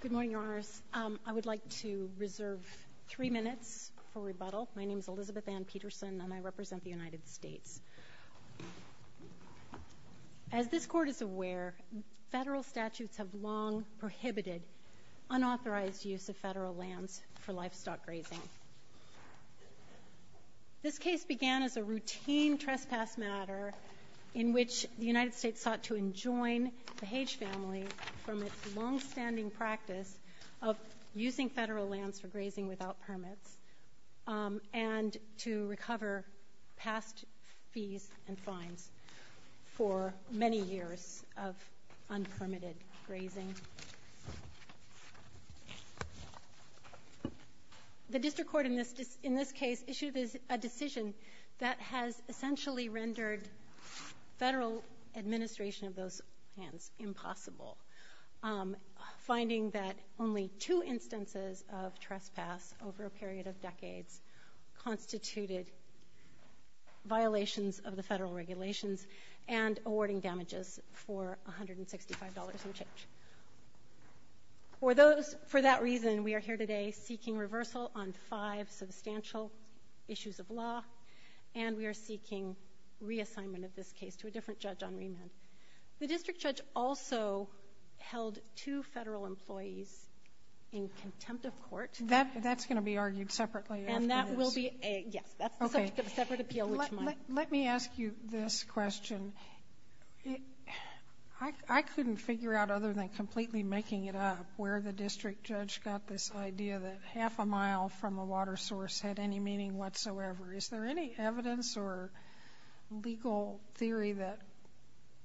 Good morning, Your Honors. I would like to reserve three minutes for rebuttal. My name is Elizabeth Ann Peterson, and I represent the United States. As this Court is aware, federal statutes have long prohibited unauthorized use of federal lands for livestock grazing. This case began as a routine trespass matter in which the longstanding practice of using federal lands for grazing without permits and to recover past fees and fines for many years of unpermitted grazing. The District Court in this case issued a decision that has essentially rendered federal administration of those lands impossible, finding that only two instances of trespass over a period of decades constituted violations of the federal regulations and awarding damages for $165 in charge. For that reason, we are here today seeking reversal on five substantial issues of law, and we are seeking reassignment of this case to a different judge on remand. The district judge also held two federal employees in contempt of court. That's going to be argued separately. And that will be, yes, that's the subject of a separate appeal, which might. Let me ask you this question. I couldn't figure out, other than completely making it up, where the district judge got this idea that half a mile from a water source had any meaning whatsoever. Is there any evidence or legal theory that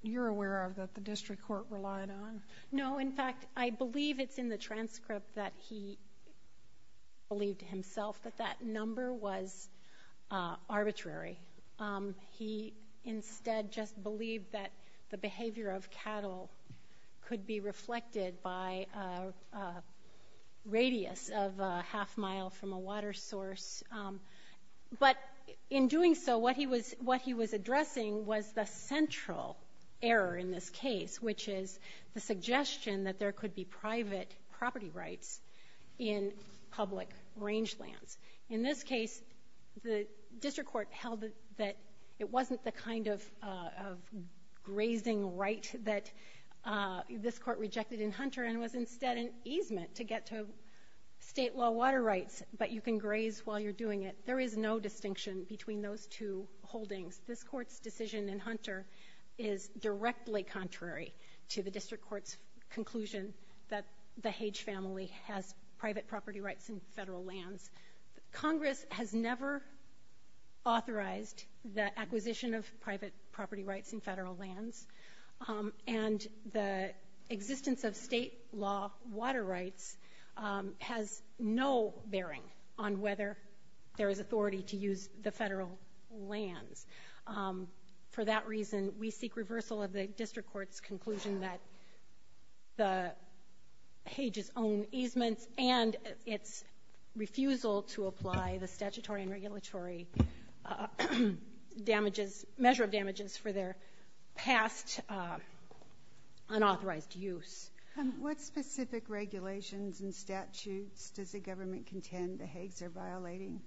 you're aware of that the District Court relied on? No. In fact, I believe it's in the transcript that he believed himself that that number was arbitrary. He instead just believed that the behavior of cattle could be reflected by a radius of a half mile from a water source. But in doing so, what he was addressing was the central error in this case, which is the suggestion that there could be private property rights in public rangelands. In this case, the District Court held that it wasn't the kind of grazing right that this Court rejected in Hunter and was instead an easement to get to state law water rights, but you can graze while you're doing it. There is no distinction between those two holdings. This Court's decision in Hunter is directly contrary to the District Court's conclusion that the Hage family has private property rights in federal lands. Congress has never authorized the acquisition of private property rights in federal lands, and the existence of state law water rights has no bearing on whether there is authority to use the federal lands. For that reason, we seek its refusal to apply the statutory and regulatory measure of damages for their past unauthorized use. What specific regulations and statutes does the government contend the Hagues are violating?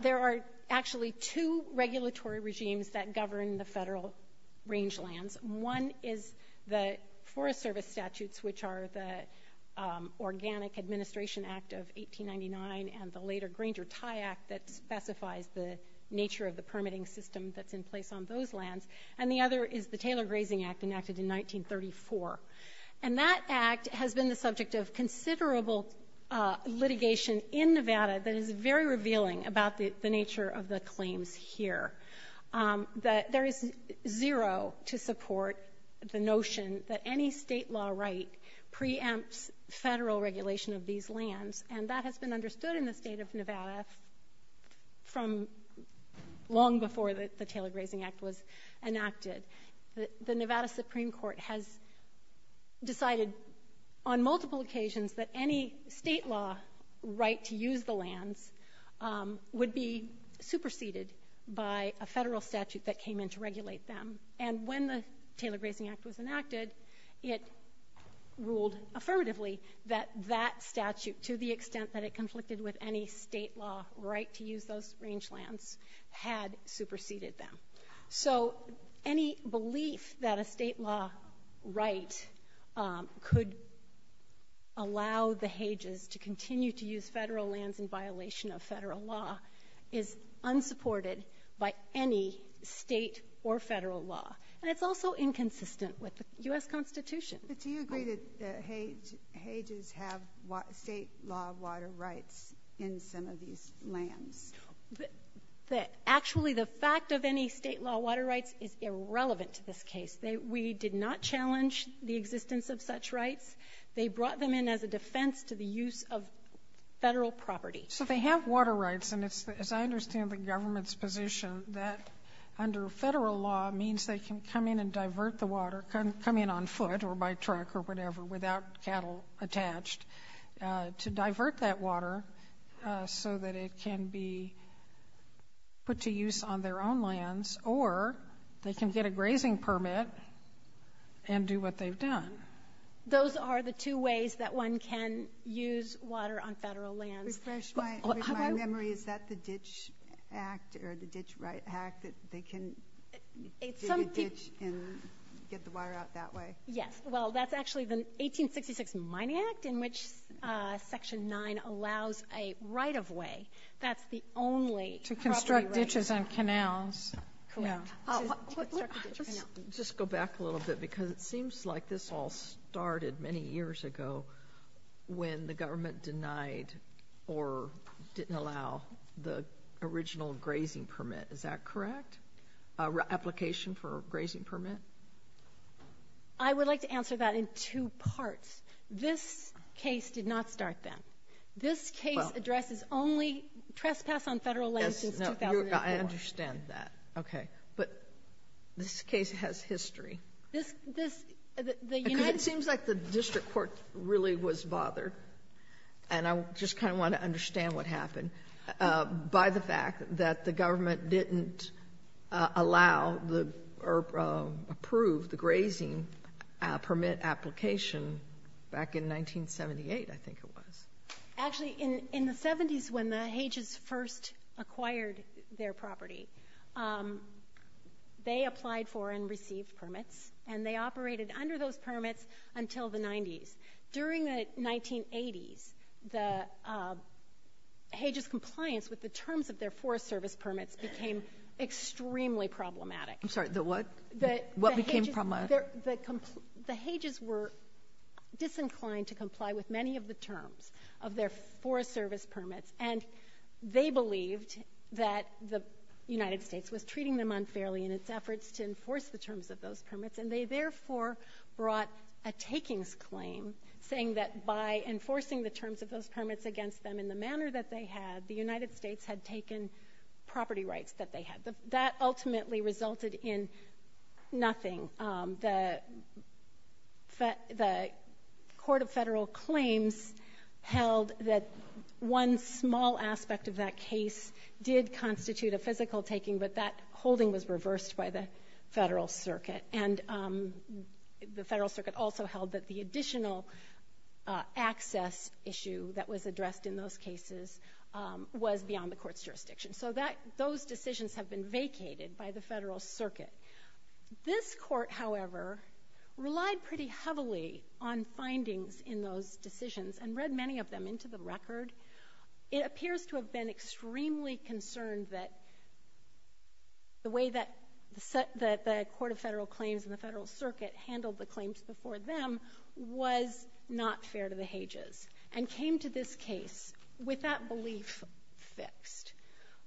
There are actually two regulatory regimes that govern the federal rangelands. One is the Forest Service statutes, which are the Organic Administration Act of 1899 and the later Grainger-Tye Act that specifies the nature of the permitting system that's in place on those lands, and the other is the Taylor Grazing Act enacted in 1934. That Act has been the subject of considerable litigation in Nevada that is very revealing about the nature of the claims here. There is zero to support the notion that any state law right preempts federal regulation of these lands, and that has been understood in the state of Nevada from long before the Taylor Grazing Act was enacted. The Nevada Supreme Court has decided on multiple occasions that any state law right to use the lands would be superseded by a federal statute that came in to regulate them. And when the Taylor Grazing Act was enacted, it ruled affirmatively that that statute, to the extent that it conflicted with any state law right to use those rangelands, had superseded them. So any belief that a state law right could allow the Hages to continue to use federal lands in violation of federal law is unsupported by any state or federal law. And it's also inconsistent with the U.S. Constitution. But do you agree that Hages have state law water rights in some of these lands? Actually the fact of any state law water rights is irrelevant to this case. We did not challenge the existence of such rights. They brought them in as a defense to the use of federal property. So they have water rights, and it's, as I understand the government's position, that under federal law means they can come in and divert the water, come in on foot or by truck or whatever without cattle attached, to divert that water so that it can be put to use on what they've done. Those are the two ways that one can use water on federal lands. Refresh my memory. Is that the Ditch Act or the Ditch Right Act that they can dig a ditch and get the water out that way? Yes. Well, that's actually the 1866 Mining Act in which Section 9 allows a right-of-way. That's the only property right. To construct ditches and canals. Correct. Let's just go back a little bit because it seems like this all started many years ago when the government denied or didn't allow the original grazing permit. Is that correct? Application for a grazing permit? I would like to answer that in two parts. This case did not start then. This case addresses only trespass on federal lands since 2004. I understand that. But this case has history. It seems like the District Court really was bothered, and I just kind of want to understand what happened, by the fact that the government didn't allow or approve the grazing permit application back in 1978, I think it was. Actually in the 70s when the Hages first acquired their property, they applied for and received permits, and they operated under those permits until the 90s. During the 1980s, the Hages compliance with the terms of their Forest Service permits became extremely problematic. I'm sorry, the what? What became problematic? The Hages were disinclined to comply with many of the terms of their Forest Service permits, and they believed that the United States was treating them unfairly in its efforts to enforce the terms of those permits, and they therefore brought a takings claim saying that by enforcing the terms of those permits against them in the manner that they had, the United States had taken property rights that they had. That ultimately resulted in nothing. The Court of Federal Claims held that one small aspect of that case did constitute a physical taking, but that holding was reversed by the Federal Circuit, and the Federal Circuit also held that the additional access issue that was addressed in those cases was beyond the Court's jurisdiction. So those decisions have been vacated by the Federal Circuit. This Court, however, relied pretty heavily on findings in those decisions and read many of them into the record. It appears to have been extremely concerned that the way that the Court of Federal Claims and the Federal Circuit handled the claims before them was not fair to the Hages, and came to this case with that belief fixed.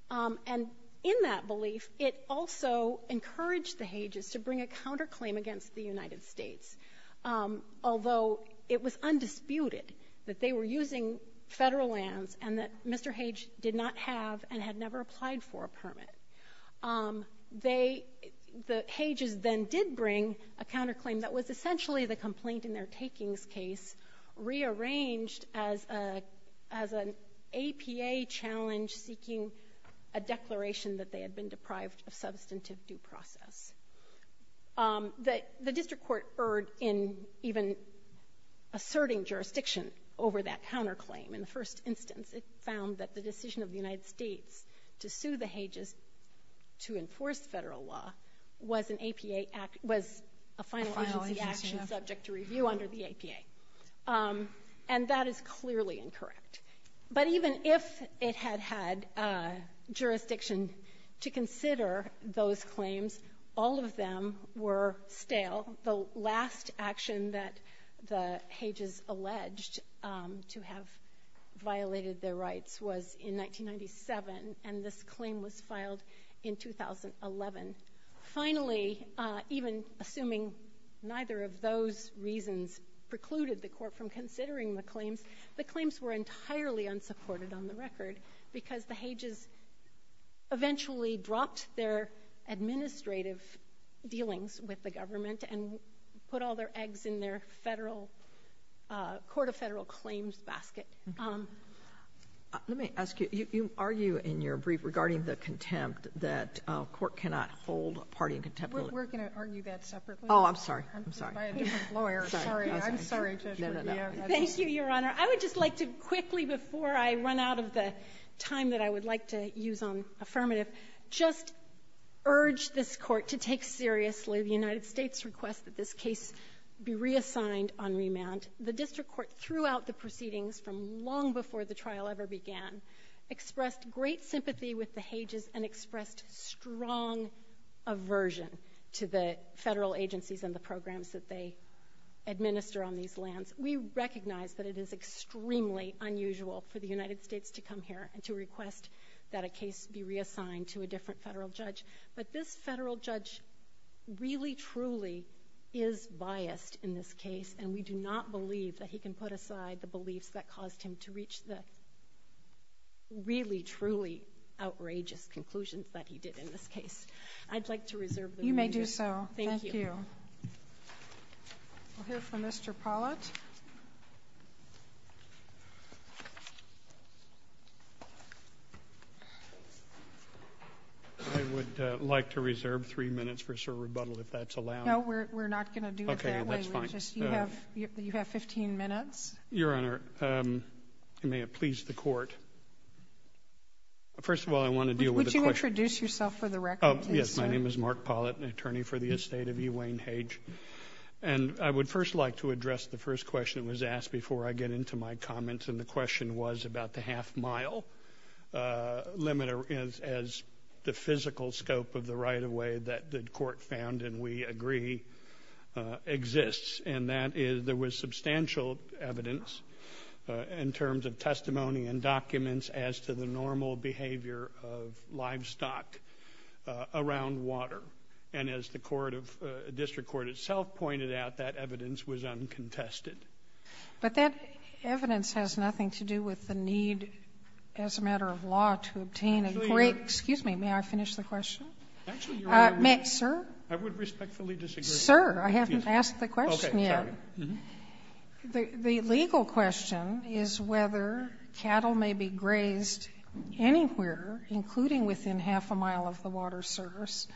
And in that belief, it also encouraged the Hages to bring a counterclaim against the United States, although it was undisputed that they were using Federal lands and that Mr. Hage did not have and had never applied for a permit. They, the Hages then did bring a counterclaim that was essentially the complaint in their takings case, rearranged as an APA challenge seeking a declaration that they had been deprived of substantive due process. The District Court erred in even asserting jurisdiction over that counterclaim. In the first instance, it found that the decision of the United States to sue the Hages to enforce Federal law was a final agency action subject to review under the APA. And that is clearly incorrect. But even if it had had jurisdiction to consider those claims, all of them were stale. The last action that the Hages alleged to have violated their rights was in 1997, and this claim was filed in 2011. Finally, even assuming neither of those reasons precluded the Court from considering the claims, the claims were entirely unsupported on the record because the Hages eventually dropped their administrative dealings with the government and put all their eggs in their Federal, Court of Federal Claims basket. Let me ask you, you argue in your brief regarding the contempt that a court cannot hold a party in contempt of law? We're going to argue that separately. Oh, I'm sorry. I'm sorry. I'm just buying a different lawyer. Sorry. I'm sorry, Judge. No, no, no. Thank you, Your Honor. I would just like to quickly, before I run out of the time that I would like to use on affirmative, just urge this Court to take seriously the United States' request that this case be reassigned on remand. The District Court, throughout the proceedings from long before the trial ever began, expressed great sympathy with the Hages and expressed strong aversion to the Federal agencies and the programs that they administer on these lands. We recognize that it is extremely unusual for the United States to come here and to request that a case be reassigned to a different Federal judge, but this Federal judge really, truly is biased in this case, and we do not believe that he can put aside the beliefs that caused him to reach the really, truly outrageous conclusions that he did in this case. I'd like to reserve the remand. You may do so. Thank you. Thank you. We'll hear from Mr. Pollitt. I would like to reserve three minutes for a short rebuttal, if that's allowed. No, we're not going to do it that way. Okay, that's fine. You have 15 minutes. Your Honor, it may have pleased the Court. First of all, I want to deal with a question. Would you introduce yourself for the record, please, sir? Yes, my name is Mark Pollitt, an attorney for the estate of E. Wayne Hage. And I would first like to address the first question that was asked before I get into my comments, and the question was about the half-mile limit as the physical scope of the right-of-way that the Court found and we agree exists, and that is there was substantial evidence in terms of testimony and documents as to the normal behavior of livestock around water. And as the District Court itself pointed out, that evidence was uncontested. But that evidence has nothing to do with the need as a matter of law to obtain a great excuse me, may I finish the question? Actually, Your Honor. Sir? I would respectfully disagree. Sir, I haven't asked the question yet. Okay, sorry. The legal question is whether cattle may be grazed anywhere, including within half a mile of the water source,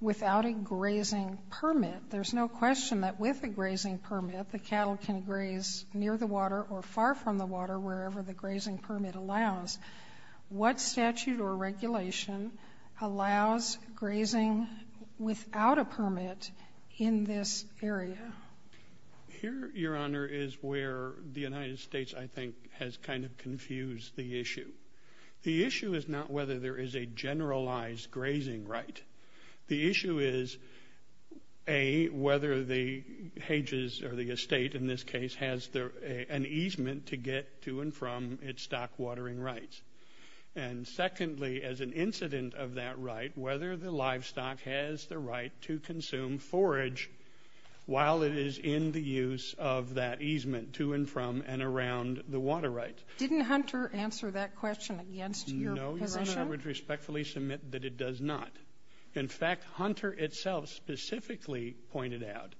without a grazing permit. There's no question that with a grazing permit, the cattle can graze near the water or far from the water, wherever the grazing permit allows. What statute or regulation allows grazing without a permit in this area? Here, Your Honor, is where the United States, I think, has kind of confused the issue. The issue is not whether there is a generalized grazing right. The issue is, A, whether the And secondly, as an incident of that right, whether the livestock has the right to consume forage while it is in the use of that easement to and from and around the water right. Didn't Hunter answer that question against your position? No, Your Honor, I would respectfully submit that it does not. In fact, Hunter itself specifically pointed out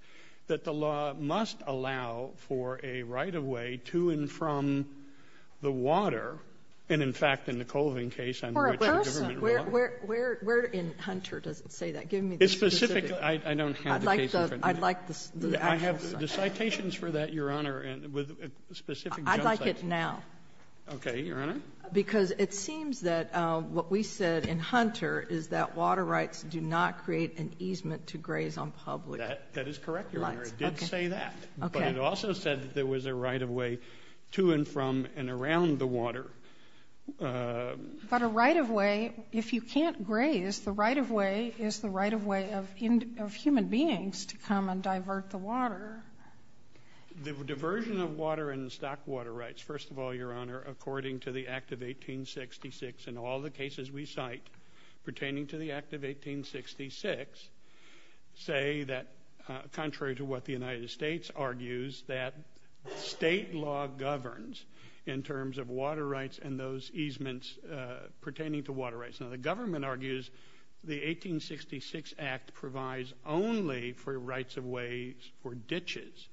that the law must allow for a right-of-way to and from the water, and, in fact, in the Colvin case, under which the government ruled. Where in Hunter does it say that? Give me the specific. It's specific. I don't have the case in front of me. I'd like the actual cite. I have the citations for that, Your Honor, with specific junk citations. I'd like it now. Okay, Your Honor. Because it seems that what we said in Hunter is that water rights do not create an easement to graze on public lands. That is correct, Your Honor. It did say that. Okay. It also said that there was a right-of-way to and from and around the water. But a right-of-way, if you can't graze, the right-of-way is the right-of-way of human beings to come and divert the water. The diversion of water and the stock water rights, first of all, Your Honor, according to the Act of 1866 and all the cases we cite pertaining to the Act of 1866, say that contrary to what the United States argues, that state law governs in terms of water rights and those easements pertaining to water rights. Now, the government argues the 1866 Act provides only for rights-of-ways for ditches,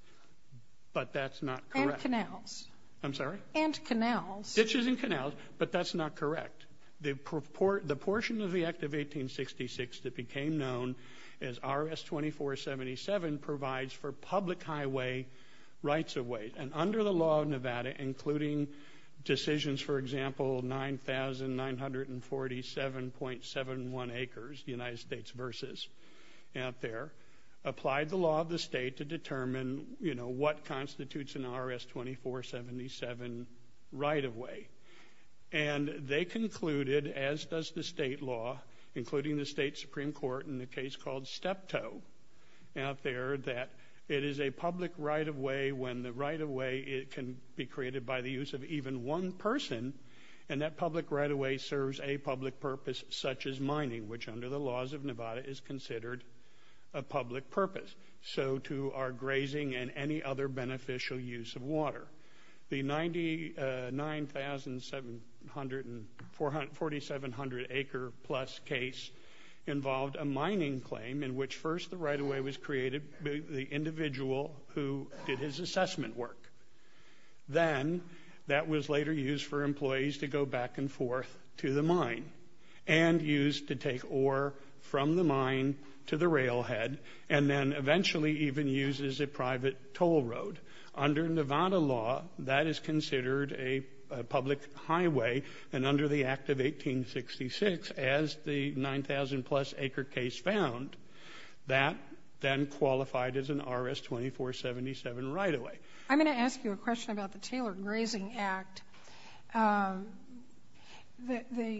but that's not correct. And canals. I'm sorry? And canals. Ditches and canals, but that's not correct. The portion of the Act of 1866 that became known as RS-2477 provides for public highway rights-of-way. And under the law of Nevada, including decisions, for example, 9,947.71 acres, the United States versus out there, applied the law of the state to determine, you know, what constitutes an RS-2477 right-of-way. And they concluded, as does the state law, including the state Supreme Court in a case called Steptoe out there, that it is a public right-of-way when the right-of-way can be created by the use of even one person, and that public right-of-way serves a public purpose such as mining, which under the laws of Nevada is considered a public purpose. So too are grazing and any other beneficial use of water. The 9,747 acre-plus case involved a mining claim in which first the right-of-way was created by the individual who did his assessment work. Then that was later used for employees to go back and forth to the mine and used to take ore from the mine to the railhead and then eventually even used as a private toll road. Under Nevada law, that is considered a public highway, and under the Act of 1866, as the 9,000-plus acre case found, that then qualified as an RS-2477 right-of-way. I'm going to ask you a question about the Taylor Grazing Act. The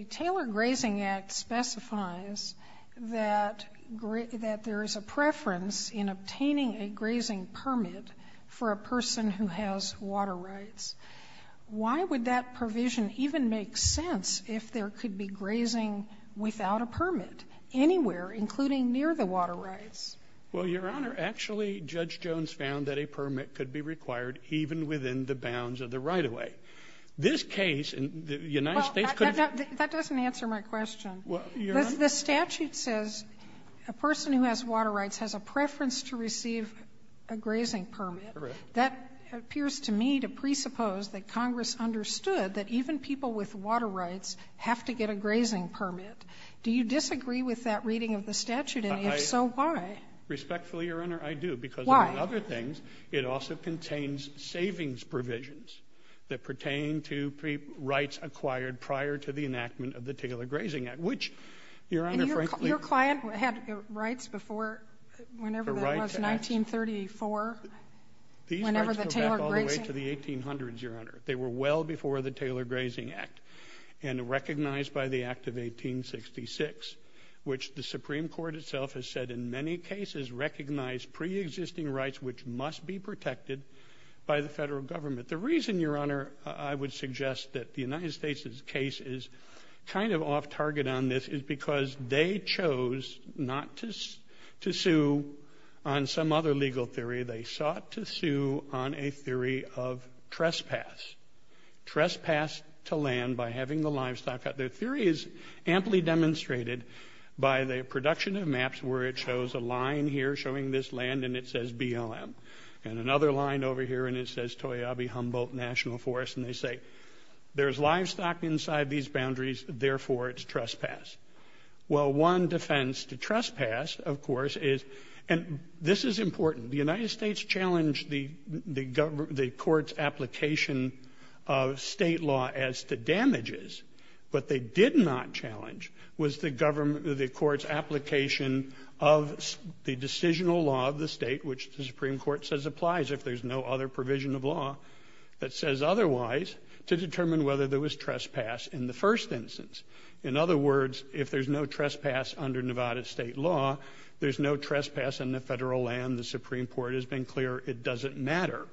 Taylor Grazing Act specifies that there is a preference in obtaining a grazing permit for a person who has water rights. Why would that provision even make sense if there could be grazing without a permit anywhere, including near the water rights? Well, Your Honor, actually Judge Jones found that a permit could be required even within the bounds of the right-of-way. This case in the United States could have been... Well, Your Honor... Because the statute says a person who has water rights has a preference to receive a grazing permit. Correct. That appears to me to presuppose that Congress understood that even people with water rights have to get a grazing permit. Do you disagree with that reading of the statute? And if so, why? Respectfully, Your Honor, I do. Why? Because among other things, it also contains savings provisions that pertain to rights acquired prior to the enactment of the Taylor Grazing Act, which, Your Honor, frankly... And your client had rights before, whenever that was, 1934, whenever the Taylor Grazing... These rights go back all the way to the 1800s, Your Honor. They were well before the Taylor Grazing Act and recognized by the Act of 1866, which the Supreme Court itself has said in many cases recognized preexisting rights which must be protected by the federal government. But the reason, Your Honor, I would suggest that the United States' case is kind of off target on this is because they chose not to sue on some other legal theory. They sought to sue on a theory of trespass, trespass to land by having the livestock... The theory is amply demonstrated by the production of maps where it shows a line here showing this land and it says BLM. And another line over here and it says Toyabe Humboldt National Forest. And they say, there's livestock inside these boundaries, therefore it's trespass. Well, one defense to trespass, of course, is... And this is important. The United States challenged the court's application of state law as to damages. What they did not challenge was the court's application of the decisional law of the state, which the Supreme Court says applies if there's no other provision of law that says otherwise, to determine whether there was trespass in the first instance. In other words, if there's no trespass under Nevada state law, there's no trespass in the federal land. The Supreme Court has been clear it doesn't matter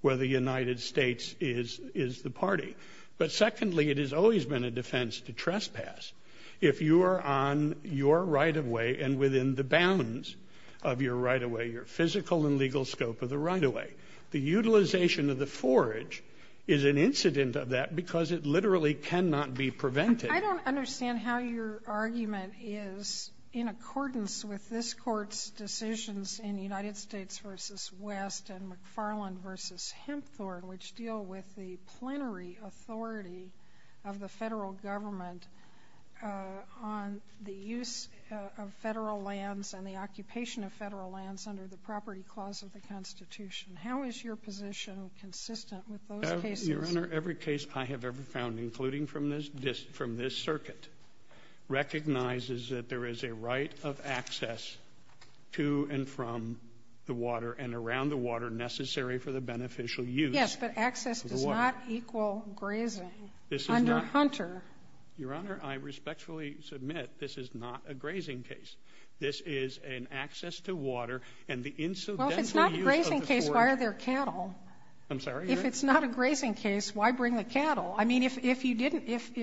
whether the United States is the party. But secondly, it has always been a defense to trespass. If you are on your right-of-way and within the bounds of your right-of-way, your physical and legal scope of the right-of-way, the utilization of the forage is an incident of that because it literally cannot be prevented. I don't understand how your argument is in accordance with this court's decisions in United States v. West and McFarland v. Hempthorne, which deal with the plenary authority of the federal government on the use of federal lands and the occupation of federal lands under the Property Clause of the Constitution. How is your position consistent with those cases? Your Honor, every case I have ever found, including from this circuit, recognizes that there is a right of access to and from the water and around the water necessary for the beneficial use of the water. Yes, but access does not equal grazing under Hunter. Your Honor, I respectfully submit this is not a grazing case. This is an access to water and the incidental use of the forage. Well, if it's not a grazing case, why are there cattle? I'm sorry? If it's not a grazing case, why bring the cattle? I mean, if you didn't, if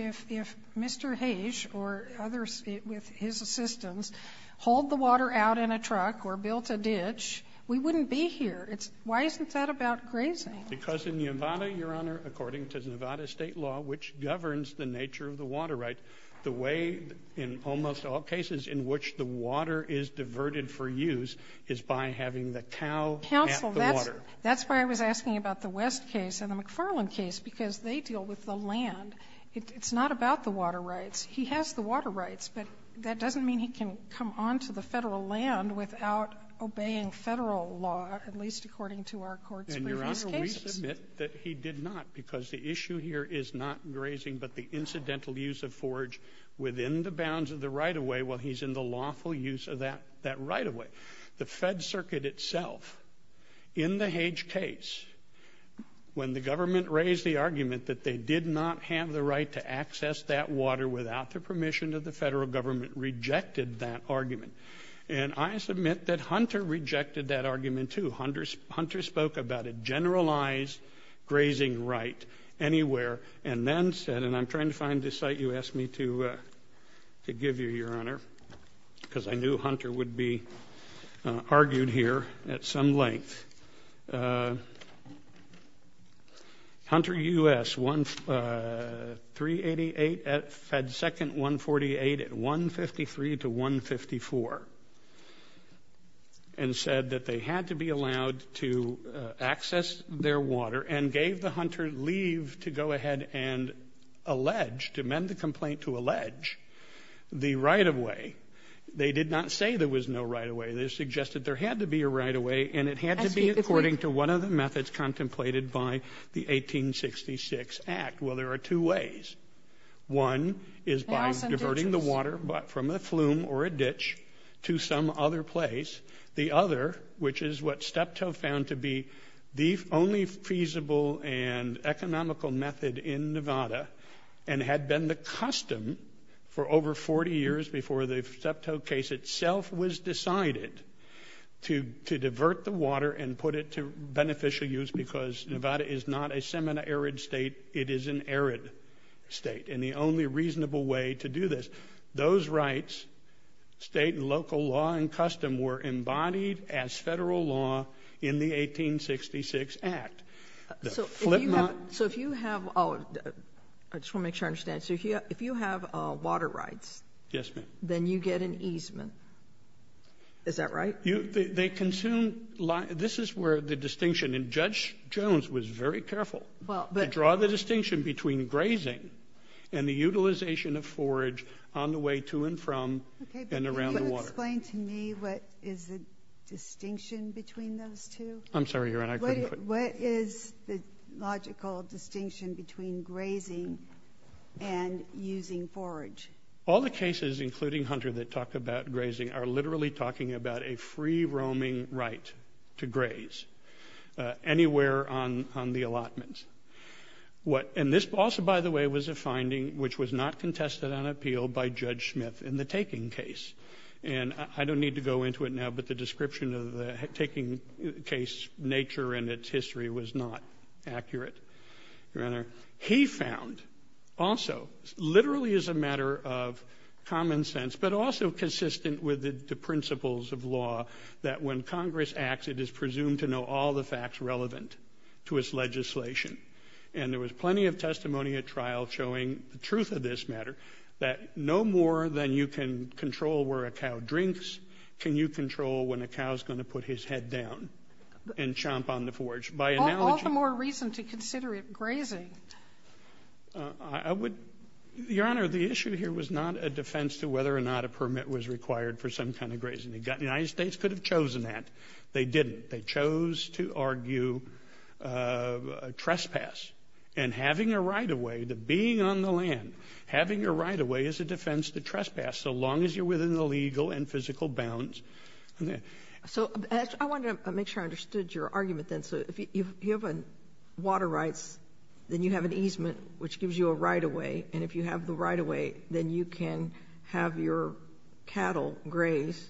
Mr. Hayes or others with his assistance hauled the water out in a truck or built a ditch, we wouldn't be here. Why isn't that about grazing? Because in Nevada, Your Honor, according to Nevada state law, which governs the nature of the water right, the way in almost all cases in which the water is diverted for use is by having the cow at the water. Counsel, that's why I was asking about the West case and the McFarland case, because they deal with the land. It's not about the water rights. He has the water rights, but that doesn't mean he can come onto the Federal land without obeying Federal law, at least according to our Court's previous cases. And Your Honor, we submit that he did not, because the issue here is not grazing, but the incidental use of forage within the bounds of the right-of-way while he's in the lawful use of that right-of-way. The Fed Circuit itself, in the Hayes case, when the government raised the argument that they did not have the right to access that water without the permission of the Federal government, rejected that argument. And I submit that Hunter rejected that argument, too. Hunter spoke about a generalized grazing right anywhere and then said, and I'm trying to find the site you asked me to give you, Your Honor, because I knew Hunter would be argued here at some length. Hunter U.S. 388 at Fed Second 148 at 153 to 154 and said that they had to be allowed to access their water and gave the Hunter leave to go ahead and allege, to amend the complaint to allege, the right-of-way. They did not say there was no right-of-way. They suggested there had to be a right-of-way and it had to be according to one of the methods contemplated by the 1866 Act. Well, there are two ways. One is by diverting the water from a flume or a ditch to some other place. The other, which is what Steptoe found to be the only feasible and economical method in Nevada and had been the custom for over 40 years before the Steptoe case itself was decided, to divert the water and put it to beneficial use because Nevada is not a semi-arid state, it is an arid state. And the only reasonable way to do this, those rights, state and local law and custom, were embodied as federal law in the 1866 Act. So if you have, I just want to make sure I understand, so if you have water rights, Yes, ma'am. then you get an easement. Is that right? They consume, this is where the distinction, and Judge Jones was very careful to draw the distinction between grazing and the utilization of forage on the way to and from and around the water. Okay, but can you explain to me what is the distinction between those two? I'm sorry, Your Honor, I couldn't hear. What is the logical distinction between grazing and using forage? All the cases, including Hunter, that talk about grazing are literally talking about a free-roaming right to graze anywhere on the allotment. And this also, by the way, was a finding which was not contested on appeal by Judge Smith in the taking case. And I don't need to go into it now, but the description of the taking case nature and its history was not accurate, Your Honor. He found also, literally as a matter of common sense, but also consistent with the principles of law, that when Congress acts, it is presumed to know all the facts relevant to its legislation. And there was plenty of testimony at trial showing the truth of this matter, that no more than you can control where a cow drinks can you control when a cow is going to put his head down and chomp on the forage. All the more reason to consider it grazing. Your Honor, the issue here was not a defense to whether or not a permit was required for some kind of grazing. The United States could have chosen that. They didn't. They chose to argue trespass. And having a right-of-way, the being on the land, having a right-of-way is a defense to trespass so long as you're within the legal and physical bounds. So I wanted to make sure I understood your argument then. So if you have water rights, then you have an easement, which gives you a right-of-way. And if you have the right-of-way, then you can have your cattle grazed.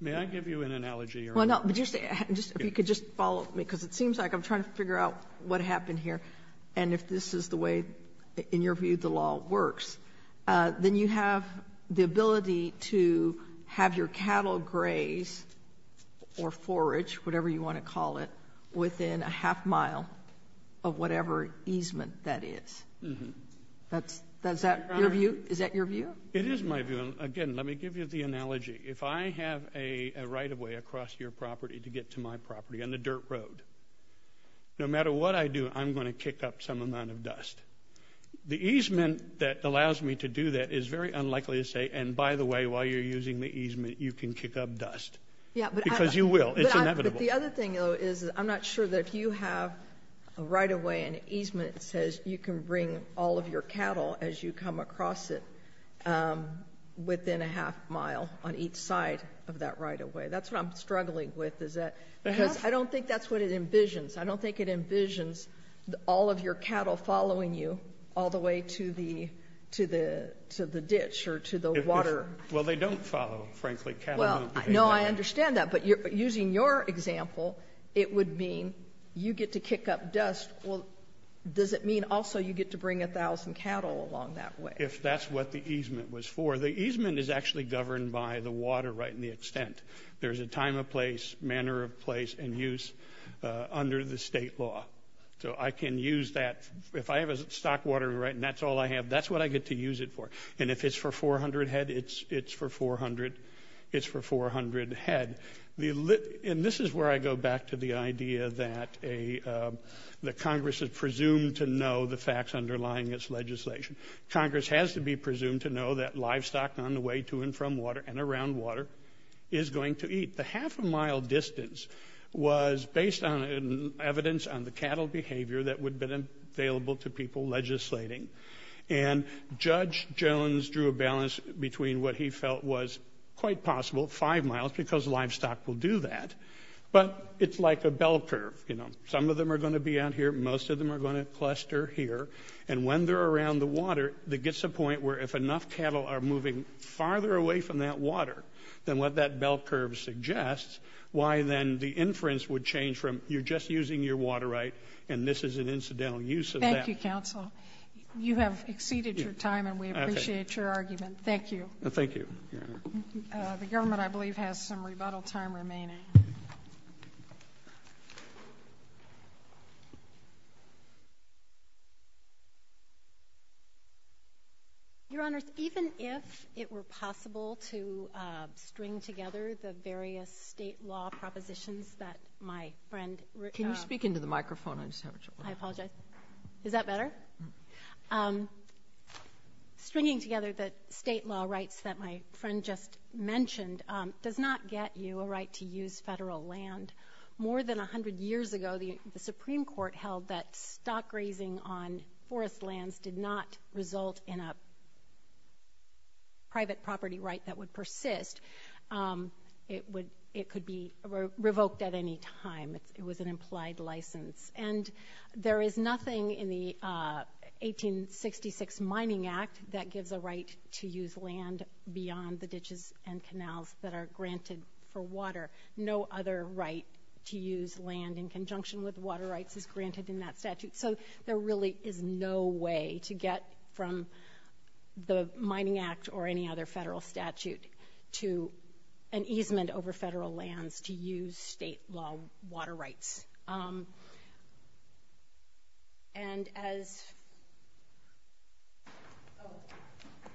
May I give you an analogy, Your Honor? Well, no. If you could just follow me, because it seems like I'm trying to figure out what happened here. And if this is the way, in your view, the law works, then you have the ability to have your cattle grazed or foraged, whatever you want to call it, within a half mile of whatever easement that is. Is that your view? It is my view. Again, let me give you the analogy. If I have a right-of-way across your property to get to my property on the dirt road, no matter what I do, I'm going to kick up some amount of dust. The easement that allows me to do that is very unlikely to say, and by the way, while you're using the easement, you can kick up dust. Because you will. It's inevitable. But the other thing, though, is I'm not sure that if you have a right-of-way, an easement says you can bring all of your cattle as you come across it within a half mile on each side of that right-of-way. That's what I'm struggling with. Because I don't think that's what it envisions. I don't think it envisions all of your cattle following you all the way to the ditch or to the water. Well, they don't follow, frankly. No, I understand that. But using your example, it would mean you get to kick up dust. Does it mean also you get to bring a thousand cattle along that way? If that's what the easement was for. The easement is actually governed by the water right and the extent. There's a time of place, manner of place, and use under the state law. So I can use that. If I have a stock water right and that's all I have, that's what I get to use it for. And if it's for 400 head, it's for 400 head. And this is where I go back to the idea that Congress is presumed to know the facts underlying its legislation. Congress has to be presumed to know that livestock on the way to and from water and around water is going to eat. The half a mile distance was based on evidence on the cattle behavior that would have been available to people legislating. And Judge Jones drew a balance between what he felt was quite possible, five miles, because livestock will do that. But it's like a bell curve. Some of them are going to be out here. Most of them are going to cluster here. And when they're around the water, there gets a point where if enough cattle are moving farther away from that water than what that bell curve suggests, why then the inference would change from you're just using your water right and this is an incidental use of that. Thank you, Counsel. You have exceeded your time and we appreciate your argument. Thank you. Thank you, Your Honor. The government, I believe, has some rebuttal time remaining. Your Honors, even if it were possible to string together the various state law propositions that my friend ---- Can you speak into the microphone? I apologize. Is that better? Stringing together the state law rights that my friend just mentioned does not get you a right to use federal land. More than 100 years ago, the Supreme Court held that stock grazing on forest lands did not result in a private property right that would persist. It could be revoked at any time. It was an implied license. And there is nothing in the 1866 Mining Act that gives a right to use land beyond the ditches and canals that are granted for water. No other right to use land in conjunction with water rights is granted in that statute. So there really is no way to get from the Mining Act or any other federal statute to an easement over federal lands to use state law water rights. And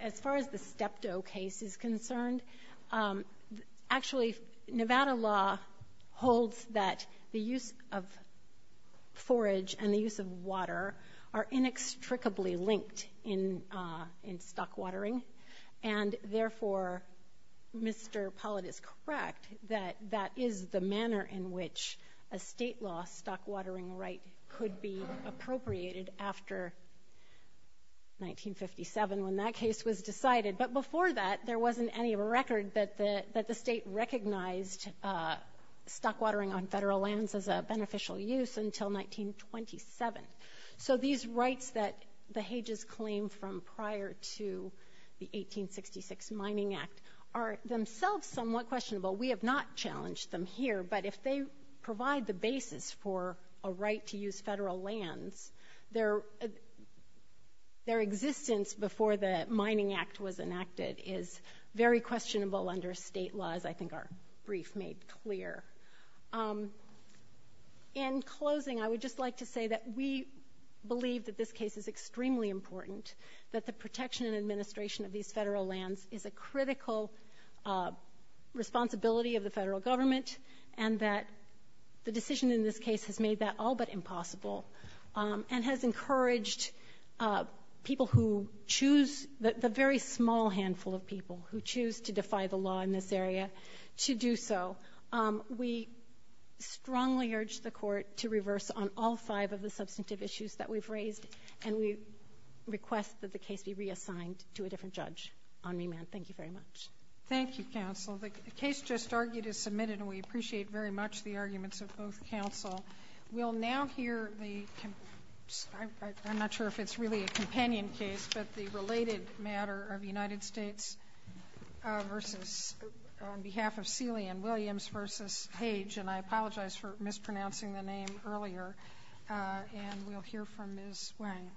as far as the Steptoe case is concerned, actually Nevada law holds that the use of forage and the use of water are inextricably linked in stock watering. And therefore, Mr. Pollitt is correct that that is the manner in which a state law stock watering right could be appropriated after 1957 when that case was decided. But before that, there wasn't any record that the state recognized stock watering on federal lands as a beneficial use until 1927. So these rights that the Hages claim from prior to the 1866 Mining Act are themselves somewhat questionable. We have not challenged them here. But if they provide the basis for a right to use federal lands, their existence before the Mining Act was enacted is very questionable under state laws, I think our brief made clear. In closing, I would just like to say that we believe that this case is extremely important, that the protection and administration of these federal lands is a critical responsibility of the federal government and that the decision in this case has made that all but impossible and has encouraged people who choose, the very small handful of people who choose to defy the law in this area to do so. We strongly urge the court to reverse on all five of the substantive issues that we've raised and we request that the case be reassigned to a different judge on remand. Thank you very much. Thank you, counsel. The case just argued is submitted and we appreciate very much the arguments of both counsel. We'll now hear the, I'm not sure if it's really a companion case, but the Page, and I apologize for mispronouncing the name earlier, and we'll hear from Ms. Wang.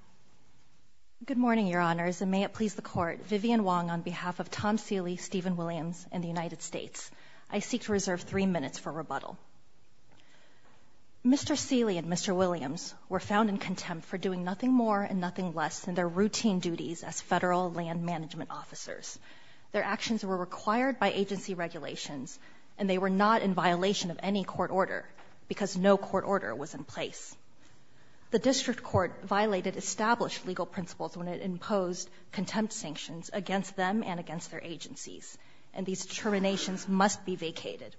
Good morning, Your Honors, and may it please the Court. Vivian Wang on behalf of Tom Seeley, Stephen Williams, and the United States. I seek to reserve three minutes for rebuttal. Mr. Seeley and Mr. Williams were found in contempt for doing nothing more and nothing less than their routine duties as federal land management officers. Their actions were required by agency regulations and they were not in violation of any court order because no court order was in place. The district court violated established legal principles when it imposed contempt sanctions against them and against their agencies, and these determinations must be vacated.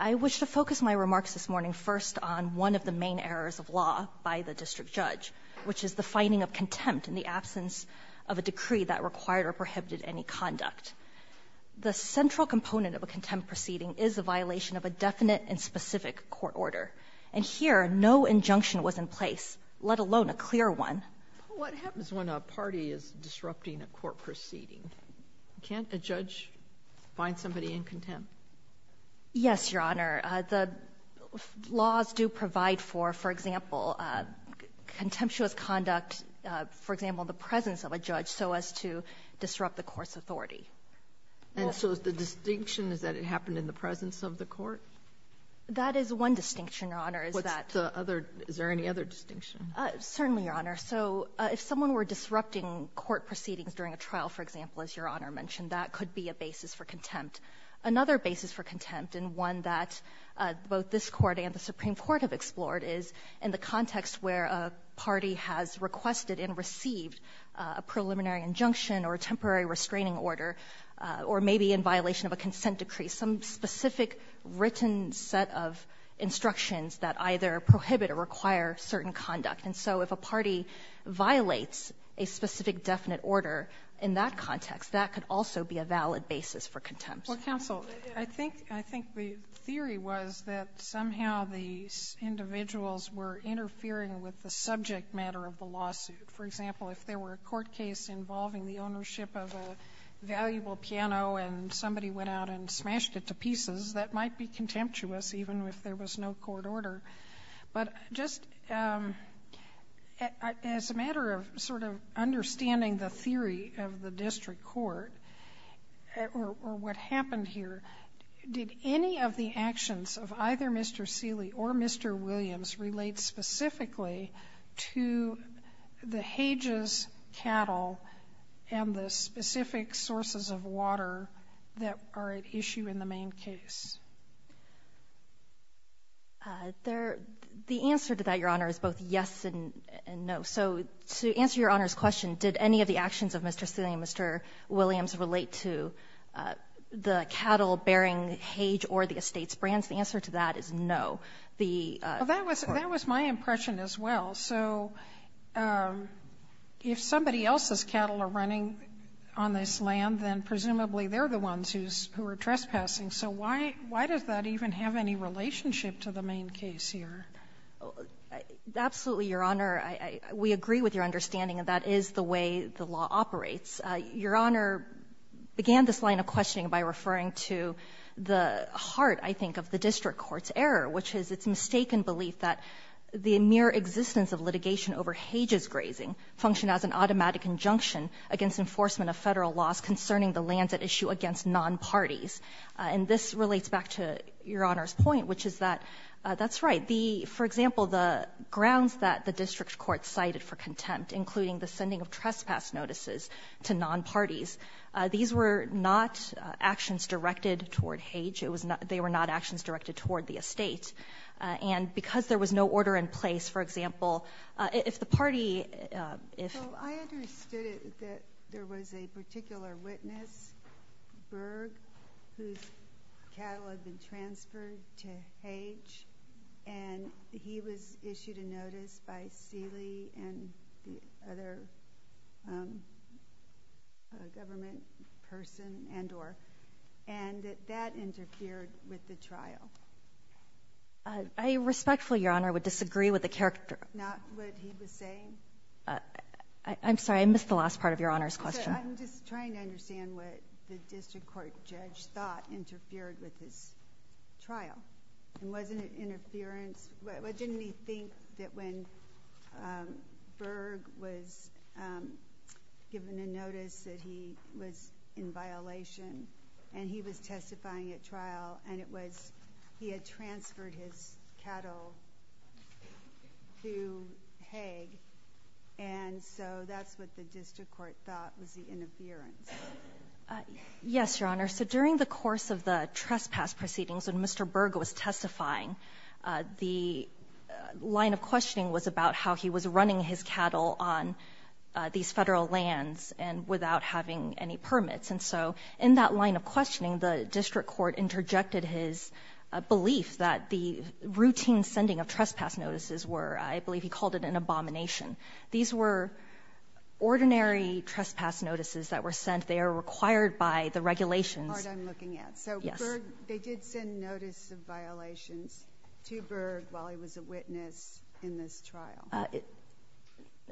I wish to focus my remarks this morning first on one of the main errors of law by the district judge, which is the finding of contempt in the absence of a decree that required or prohibited any conduct. The central component of a contempt proceeding is the violation of a definite and specific court order. And here, no injunction was in place, let alone a clear one. Sotomayor, what happens when a party is disrupting a court proceeding? Can't a judge find somebody in contempt? Yes, Your Honor. The laws do provide for, for example, contemptuous conduct, for example, the presence of a judge so as to disrupt the court's authority. And so the distinction is that it happened in the presence of the court? That is one distinction, Your Honor, is that the other. Is there any other distinction? Certainly, Your Honor. So if someone were disrupting court proceedings during a trial, for example, as Your Honor mentioned, that could be a basis for contempt. Another basis for contempt and one that both this Court and the Supreme Court have is a preliminary injunction or a temporary restraining order or maybe in violation of a consent decree, some specific written set of instructions that either prohibit or require certain conduct. And so if a party violates a specific definite order in that context, that could also be a valid basis for contempt. Well, counsel, I think the theory was that somehow these individuals were interfering with the subject matter of the lawsuit. For example, if there were a court case involving the ownership of a valuable piano and somebody went out and smashed it to pieces, that might be contemptuous even if there was no court order. But just as a matter of sort of understanding the theory of the district court or what happened here, did any of the actions of either Mr. Seeley or Mr. Williams relate specifically to the Hage's cattle and the specific sources of water that are at issue in the main case? The answer to that, Your Honor, is both yes and no. So to answer Your Honor's question, did any of the actions of Mr. Seeley and Mr. Williams relate to the cattle bearing Hage or the estate's brands? The answer to that is no. Well, that was my impression as well. So if somebody else's cattle are running on this land, then presumably they're the ones who are trespassing. So why does that even have any relationship to the main case here? Absolutely, Your Honor. We agree with your understanding that that is the way the law operates. Your Honor began this line of questioning by referring to the heart, I think, of the case, which is its mistaken belief that the mere existence of litigation over Hage's grazing functioned as an automatic injunction against enforcement of Federal laws concerning the lands at issue against nonparties. And this relates back to Your Honor's point, which is that that's right. For example, the grounds that the district court cited for contempt, including the sending of trespass notices to nonparties, these were not actions directed toward Hage. They were not actions directed toward the estate. And because there was no order in place, for example, if the party— I understood that there was a particular witness, Berg, whose cattle had been transferred to Hage, and he was issued a notice by Seeley and the other government person and or, and that that interfered with the trial. I respectfully, Your Honor, would disagree with the character— Not what he was saying? I'm sorry. I missed the last part of Your Honor's question. I'm just trying to understand what the district court judge thought interfered with his trial. And wasn't it interference? Didn't he think that when Berg was given a notice that he was in violation, and he was testifying at trial, and it was he had transferred his cattle to Hage, and so that's what the district court thought was the interference. Yes, Your Honor. So during the course of the trespass proceedings, when Mr. Berg was testifying, the line of questioning was about how he was running his cattle on these Federal lands and without having any permits. And so in that line of questioning, the district court interjected his belief that the routine sending of trespass notices were, I believe he called it an abomination. These were ordinary trespass notices that were sent. They are required by the regulations. That's the part I'm looking at. Yes. They did send notice of violations to Berg while he was a witness in this trial.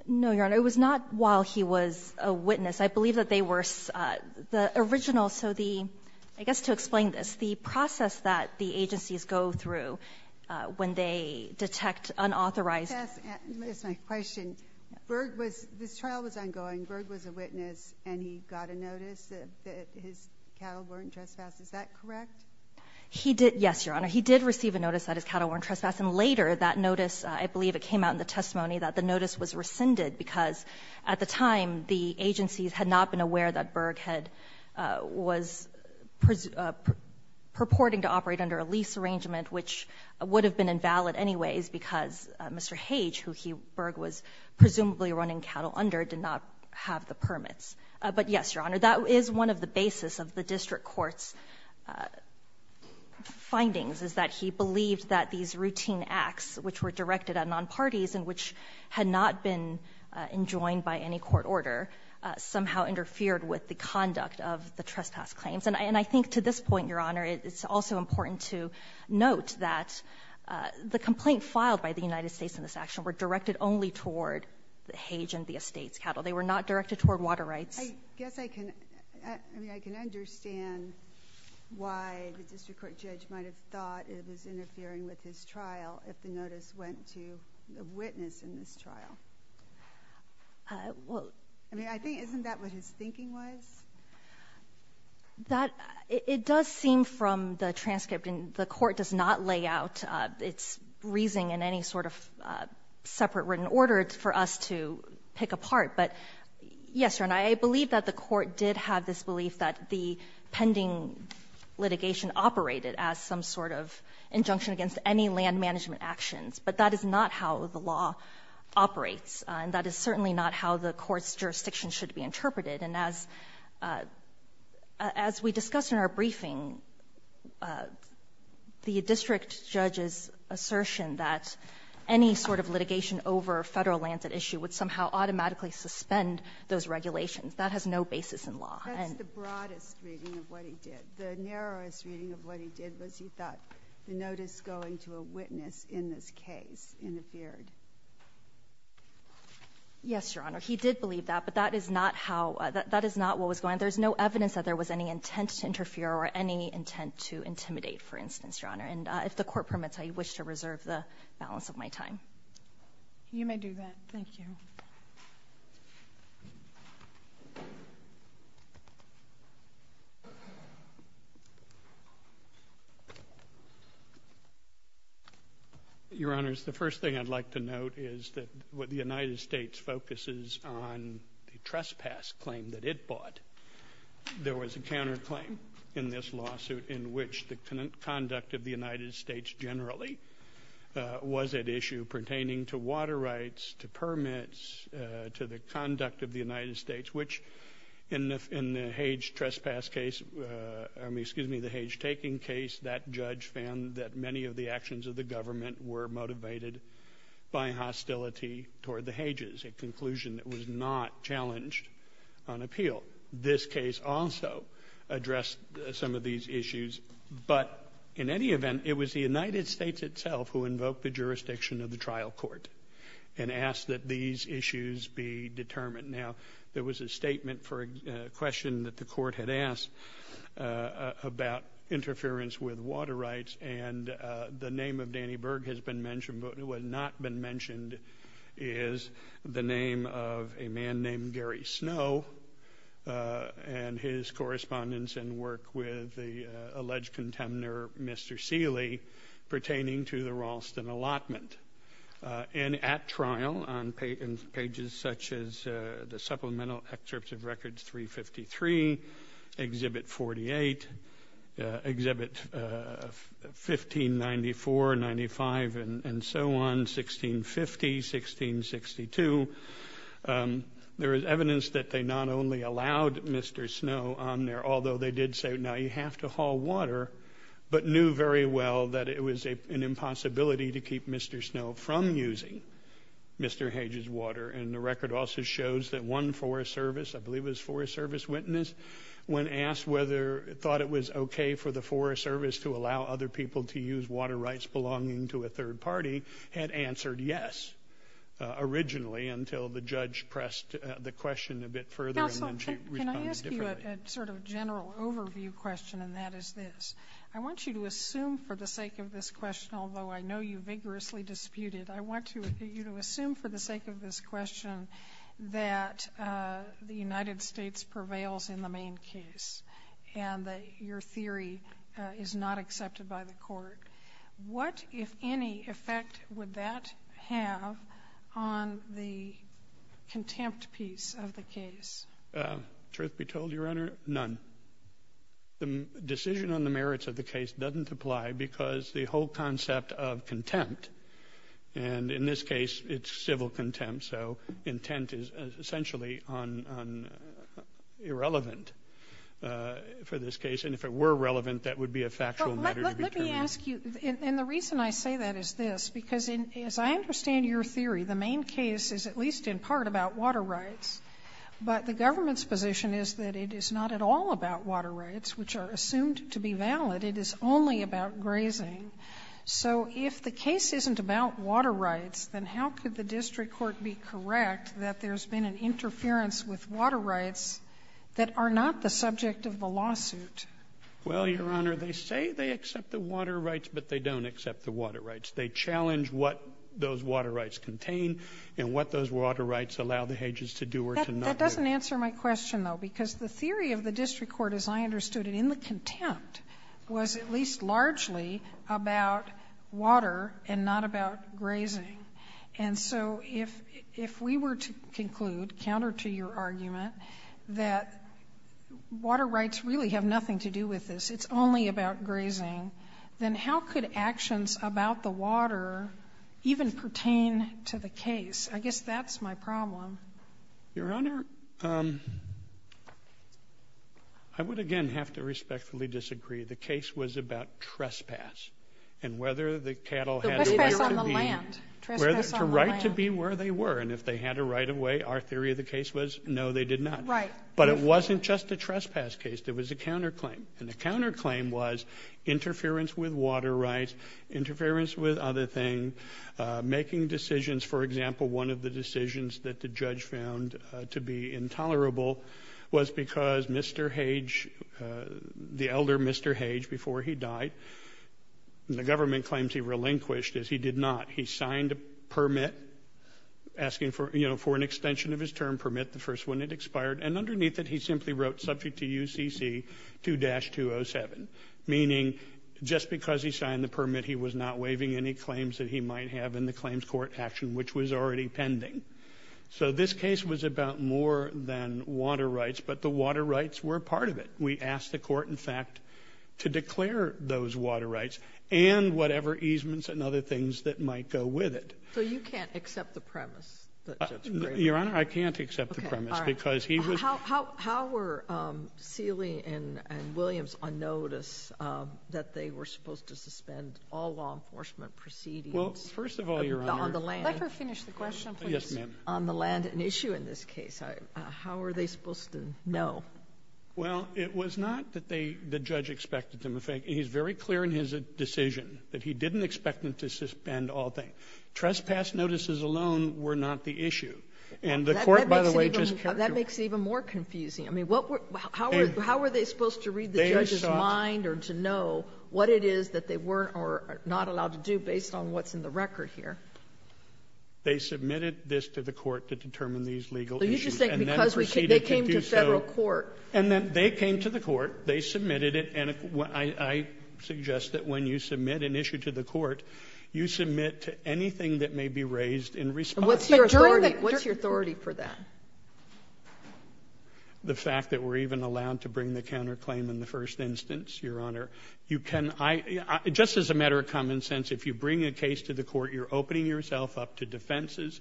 No, Your Honor. It was not while he was a witness. I believe that they were the original. So the ‑‑ I guess to explain this, the process that the agencies go through when they detect unauthorized ‑‑ That's my question. Berg was ‑‑ this trial was ongoing. Berg was a witness, and he got a notice that his cattle weren't trespassed. Is that correct? Yes, Your Honor. He did receive a notice that his cattle weren't trespassed. And later that notice, I believe it came out in the testimony, that the notice was rescinded because at the time the agencies had not been aware that Berg had ‑‑ was purporting to operate under a lease arrangement, which would have been invalid anyways because Mr. Hage, who Berg was presumably running cattle under, did not have the permits. But yes, Your Honor. That is one of the basis of the district court's findings, is that he believed that these routine acts, which were directed at nonparties and which had not been enjoined by any court order, somehow interfered with the conduct of the trespass claims. And I think to this point, Your Honor, it's also important to note that the complaint filed by the United States in this action were directed only toward Hage and the estate's cattle. They were not directed toward water rights. I guess I can ‑‑ I mean, I can understand why the district court judge might have thought it was interfering with his trial if the notice went to the witness in this trial. Well ‑‑ I mean, I think, isn't that what his thinking was? That ‑‑ it does seem from the transcript, and the court does not lay out its reasoning in any sort of separate written order for us to pick apart. But yes, Your Honor, I believe that the court did have this belief that the pending litigation operated as some sort of injunction against any land management actions. But that is not how the law operates, and that is certainly not how the court's jurisdiction should be interpreted. And as we discussed in our briefing, the district judge's assertion that any sort of litigation over Federal lands at issue would somehow automatically sustain or suspend those regulations, that has no basis in law. That's the broadest reading of what he did. The narrowest reading of what he did was he thought the notice going to a witness in this case interfered. Yes, Your Honor. He did believe that, but that is not how ‑‑ that is not what was going on. There is no evidence that there was any intent to interfere or any intent to intimidate, for instance, Your Honor. And if the Court permits, I wish to reserve the balance of my time. You may do that. Thank you. Your Honor, the first thing I'd like to note is that what the United States focuses on the trespass claim that it bought, there was a counterclaim in this lawsuit in which the conduct of the United States generally was at issue pertaining to water rights, to permits, to the conduct of the United States, which in the Hage trespass case, excuse me, the Hage taking case, that judge found that many of the actions of the government were motivated by hostility toward the Hages, a conclusion that was not challenged on appeal. This case also addressed some of these issues, but in any event, it was the United States itself who invoked the jurisdiction of the trial court and asked that these issues be determined. Now, there was a statement for a question that the court had asked about interference with water rights, and the name of Danny Berg has been mentioned, but what has not been mentioned is the name of a man named Gary Snow and his correspondence and work with the alleged contender, Mr. Seeley, pertaining to the Ralston allotment. And at trial on pages such as the supplemental excerpts of records 353, Exhibit 48, Exhibit 1594, 95, and so on, 1650, 1662, there is evidence that they not only allowed Mr. Snow on there, although they did say, now you have to haul water, but knew very well that it was an impossibility to keep Mr. Snow from using Mr. Hage's water. And the record also shows that one Forest Service, I believe it was Forest Service witness, when asked whether it thought it was okay for the Forest Service to allow other people to use water rights belonging to a third party, had answered yes originally until the judge pressed the question a bit further. Counsel, can I ask you a sort of general overview question, and that is this. I want you to assume for the sake of this question, although I know you vigorously disputed, I want you to assume for the sake of this question that the United States prevails in the main case and that your theory is not accepted by the court. What, if any, effect would that have on the contempt piece of the case? Truth be told, Your Honor, none. The decision on the merits of the case doesn't apply because the whole concept of contempt, and in this case it's civil contempt, so intent is essentially irrelevant for this case. And if it were relevant, that would be a factual matter to determine. Well, let me ask you, and the reason I say that is this. Because as I understand your theory, the main case is at least in part about water rights, but the government's position is that it is not at all about water rights, which are assumed to be valid. It is only about grazing. So if the case isn't about water rights, then how could the district court be correct that there's been an interference with water rights that are not the subject of the lawsuit? Well, Your Honor, they say they accept the water rights, but they don't accept the water rights. They challenge what those water rights contain and what those water rights allow the ages to do or to not do. That doesn't answer my question, though, because the theory of the district court, as I understood it, in the contempt was at least largely about water and not about grazing. And so if we were to conclude, counter to your argument, that water rights really have nothing to do with this, it's only about grazing, then how could actions about the water even pertain to the case? I guess that's my problem. Your Honor, I would again have to respectfully disagree. The case was about trespass and whether the cattle had a right to be where they were. And if they had a right of way, our theory of the case was no, they did not. Right. But it wasn't just a trespass case. It was a counterclaim. And the counterclaim was interference with water rights, interference with other things, making decisions. For example, one of the decisions that the judge found to be intolerable was because Mr. Hage, the elder Mr. Hage, before he died, the government claims he relinquished, as he did not. He signed a permit asking for, you know, for an extension of his term permit, the first one had expired. And underneath it, he simply wrote subject to UCC 2-207, meaning just because he signed the permit, he was not waiving any claims that he might have in the claims court action, which was already pending. So this case was about more than water rights, but the water rights were a part of it. We asked the court, in fact, to declare those water rights and whatever easements and other things that might go with it. So you can't accept the premise that Judge Grady made? Your Honor, I can't accept the premise because he was — Okay. All right. How were Seeley and Williams on notice that they were supposed to suspend all law enforcement proceedings on the land? Well, first of all, Your Honor — Let her finish the question, please. Yes, ma'am. On the land, an issue in this case. How were they supposed to know? Well, it was not that they — the judge expected them. In fact, he's very clear in his decision that he didn't expect them to suspend all things. Trespass notices alone were not the issue. And the court, by the way, just — That makes it even more confusing. I mean, what were — how were — how were they supposed to read the judge's mind or to know what it is that they were or are not allowed to do based on what's in the record here? They submitted this to the court to determine these legal issues, and then proceeded to do so. They came to Federal court. And then they came to the court, they submitted it, and I suggest that when you submit an issue to the court, you submit to anything that may be raised in response. And what's your authority? What's your authority for that? The fact that we're even allowed to bring the counterclaim in the first instance, Your Honor. You can — I — just as a matter of common sense, if you bring a case to the court, you're opening yourself up to defenses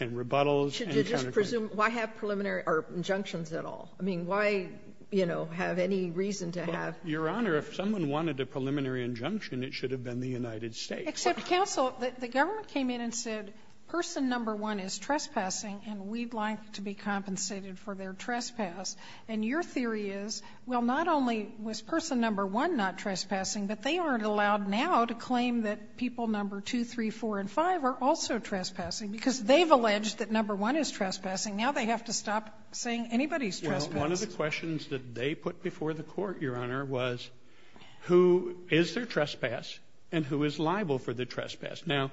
and rebuttals and counterclaims. Should you just presume — why have preliminary — or injunctions at all? I mean, why, you know, have any reason to have — Your Honor, if someone wanted a preliminary injunction, it should have been the United States. Except, counsel, the government came in and said, person number one is trespassing, and we'd like to be compensated for their trespass. And your theory is, well, not only was person number one not trespassing, but they aren't allowed now to claim that people number two, three, four, and five are also trespassing, because they've alleged that number one is trespassing. Now they have to stop saying anybody's trespassing. Well, one of the questions that they put before the Court, Your Honor, was who is their trespass and who is liable for the trespass. Now,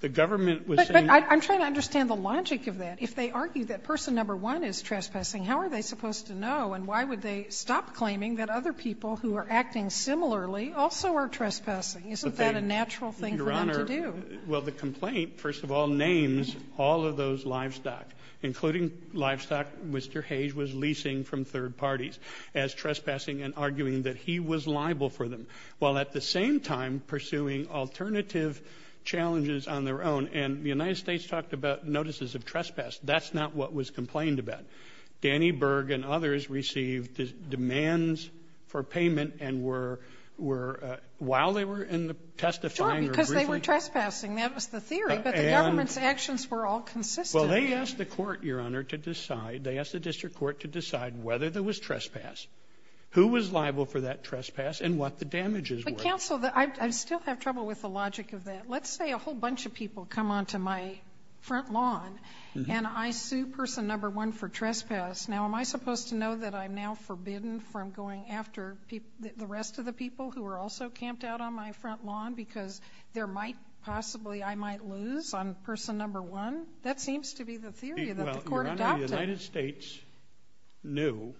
the government was saying — But — but I'm trying to understand the logic of that. If they argue that person number one is trespassing, how are they supposed to know, and why would they stop claiming that other people who are acting similarly also are trespassing? Isn't that a natural thing for them to do? Your Honor, well, the complaint, first of all, names all of those livestock, including livestock Mr. Hayes was leasing from third parties as trespassing and arguing that he was liable for them, while at the same time pursuing alternative challenges on their own. And the United States talked about notices of trespass. That's not what was complained about. Danny Berg and others received demands for payment and were — were — while they were in the testifying or briefing. Sure, because they were trespassing. That was the theory. But the government's actions were all consistent. Well, they asked the court, Your Honor, to decide — they asked the district court to decide whether there was trespass, who was liable for that trespass, and what the damages were. But, counsel, I still have trouble with the logic of that. Let's say a whole bunch of people come onto my front lawn and I sue person number one for trespass. Now, am I supposed to know that I'm now forbidden from going after the rest of the people who are also camped out on my front lawn because there might possibly — I might lose on person number one? That seems to be the theory that the court adopted. Well, Your Honor, the United States knew,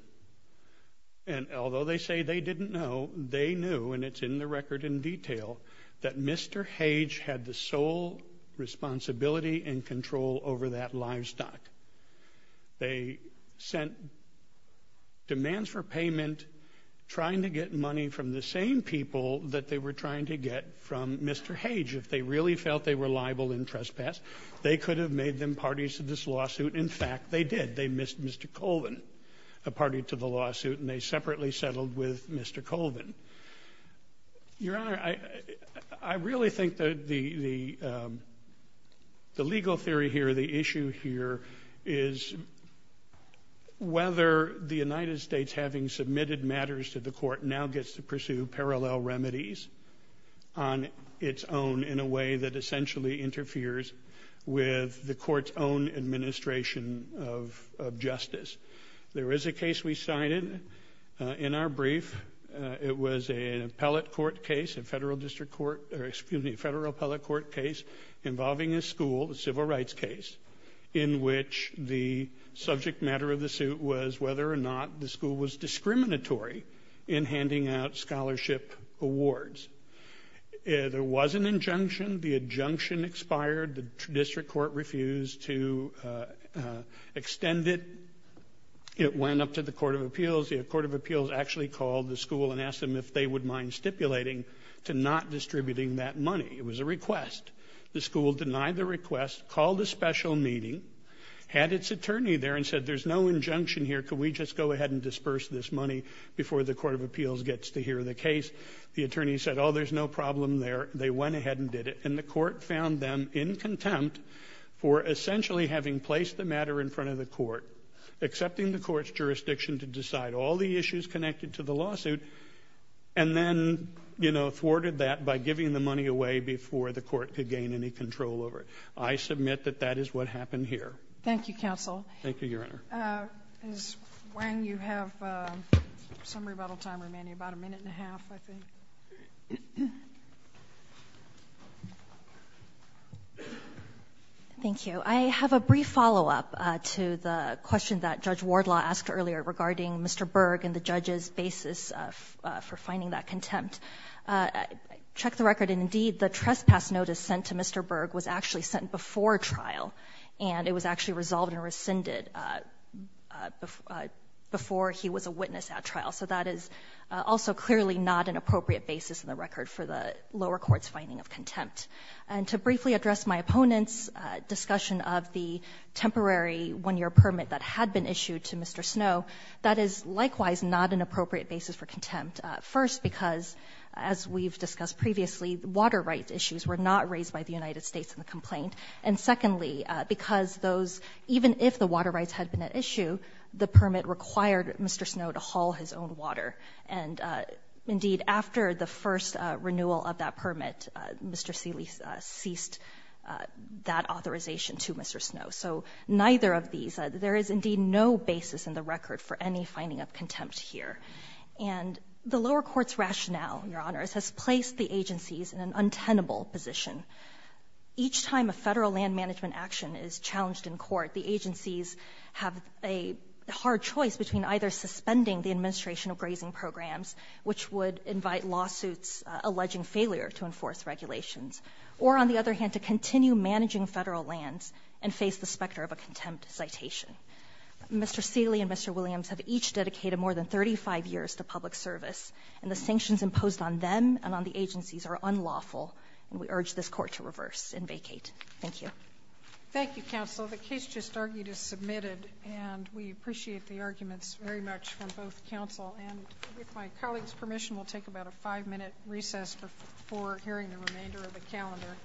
and although they say they didn't know, they knew, and it's in the record in detail, that Mr. Hage had the sole responsibility and control over that livestock. They sent demands for payment trying to get money from the same people that they were trying to get from Mr. Hage. If they really felt they were liable in trespass, they could have made them parties to this lawsuit. In fact, they did. They missed Mr. Colvin, a party to the lawsuit, and they separately settled with Mr. Colvin. Your Honor, I really think that the legal theory here, the issue here, is whether the United States, having submitted matters to the court, now gets to pursue parallel remedies on its own in a way that essentially interferes with the court's own administration of justice. There is a case we cited in our brief. It was an appellate court case, a federal district court — or, excuse me, a federal appellate court case involving a school, a civil rights case, in which the subject matter of the suit was whether or not the school was discriminatory in handing out scholarship awards. There was an injunction. The injunction expired. The district court refused to extend it. It went up to the Court of Appeals. The Court of Appeals actually called the school and asked them if they would mind stipulating to not distributing that money. It was a request. The school denied the request, called a special meeting, had its attorney there and said, there's no injunction here. Could we just go ahead and disperse this money before the Court of Appeals gets to hear the case? The attorney said, oh, there's no problem there. They went ahead and did it. And the court found them in contempt for essentially having placed the matter in front of the court, accepting the court's jurisdiction to decide all the issues connected to the lawsuit, and then, you know, thwarted that by giving the money away before the court could gain any control over it. I submit that that is what happened here. Thank you, counsel. Thank you, Your Honor. Ms. Wang, you have some rebuttal time remaining, about a minute and a half, I think. Thank you. I have a brief follow-up to the question that Judge Wardlaw asked earlier regarding Mr. Berg and the judge's basis for finding that contempt. I checked the record, and indeed the trespass notice sent to Mr. Berg was actually sent before trial. And it was actually resolved and rescinded before he was a witness at trial. So that is also clearly not an appropriate basis in the record for the lower court's finding of contempt. And to briefly address my opponent's discussion of the temporary 1-year permit that had been issued to Mr. Snow, that is likewise not an appropriate basis for contempt, first because, as we've discussed previously, water rights issues were not raised by the United States in the complaint. And secondly, because those — even if the water rights had been at issue, the permit required Mr. Snow to haul his own water. And indeed, after the first renewal of that permit, Mr. Seeley ceased that authorization to Mr. Snow. So neither of these — there is indeed no basis in the record for any finding of contempt here. And the lower court's rationale, Your Honors, has placed the agencies in an untenable position. Each time a Federal land management action is challenged in court, the agencies have a hard choice between either suspending the administration of grazing programs, which would invite lawsuits alleging failure to enforce regulations, or, on the other hand, to continue managing Federal lands and face the specter of a contempt citation. Mr. Seeley and Mr. Williams have each dedicated more than 35 years to public service, and the sanctions imposed on them and on the agencies are unlawful, and we urge this court to reverse and vacate. Thank you. Thank you, Counsel. The case just argued is submitted, and we appreciate the arguments very much from both counsel. And with my colleague's permission, we'll take about a five-minute recess before hearing the remainder of the calendar.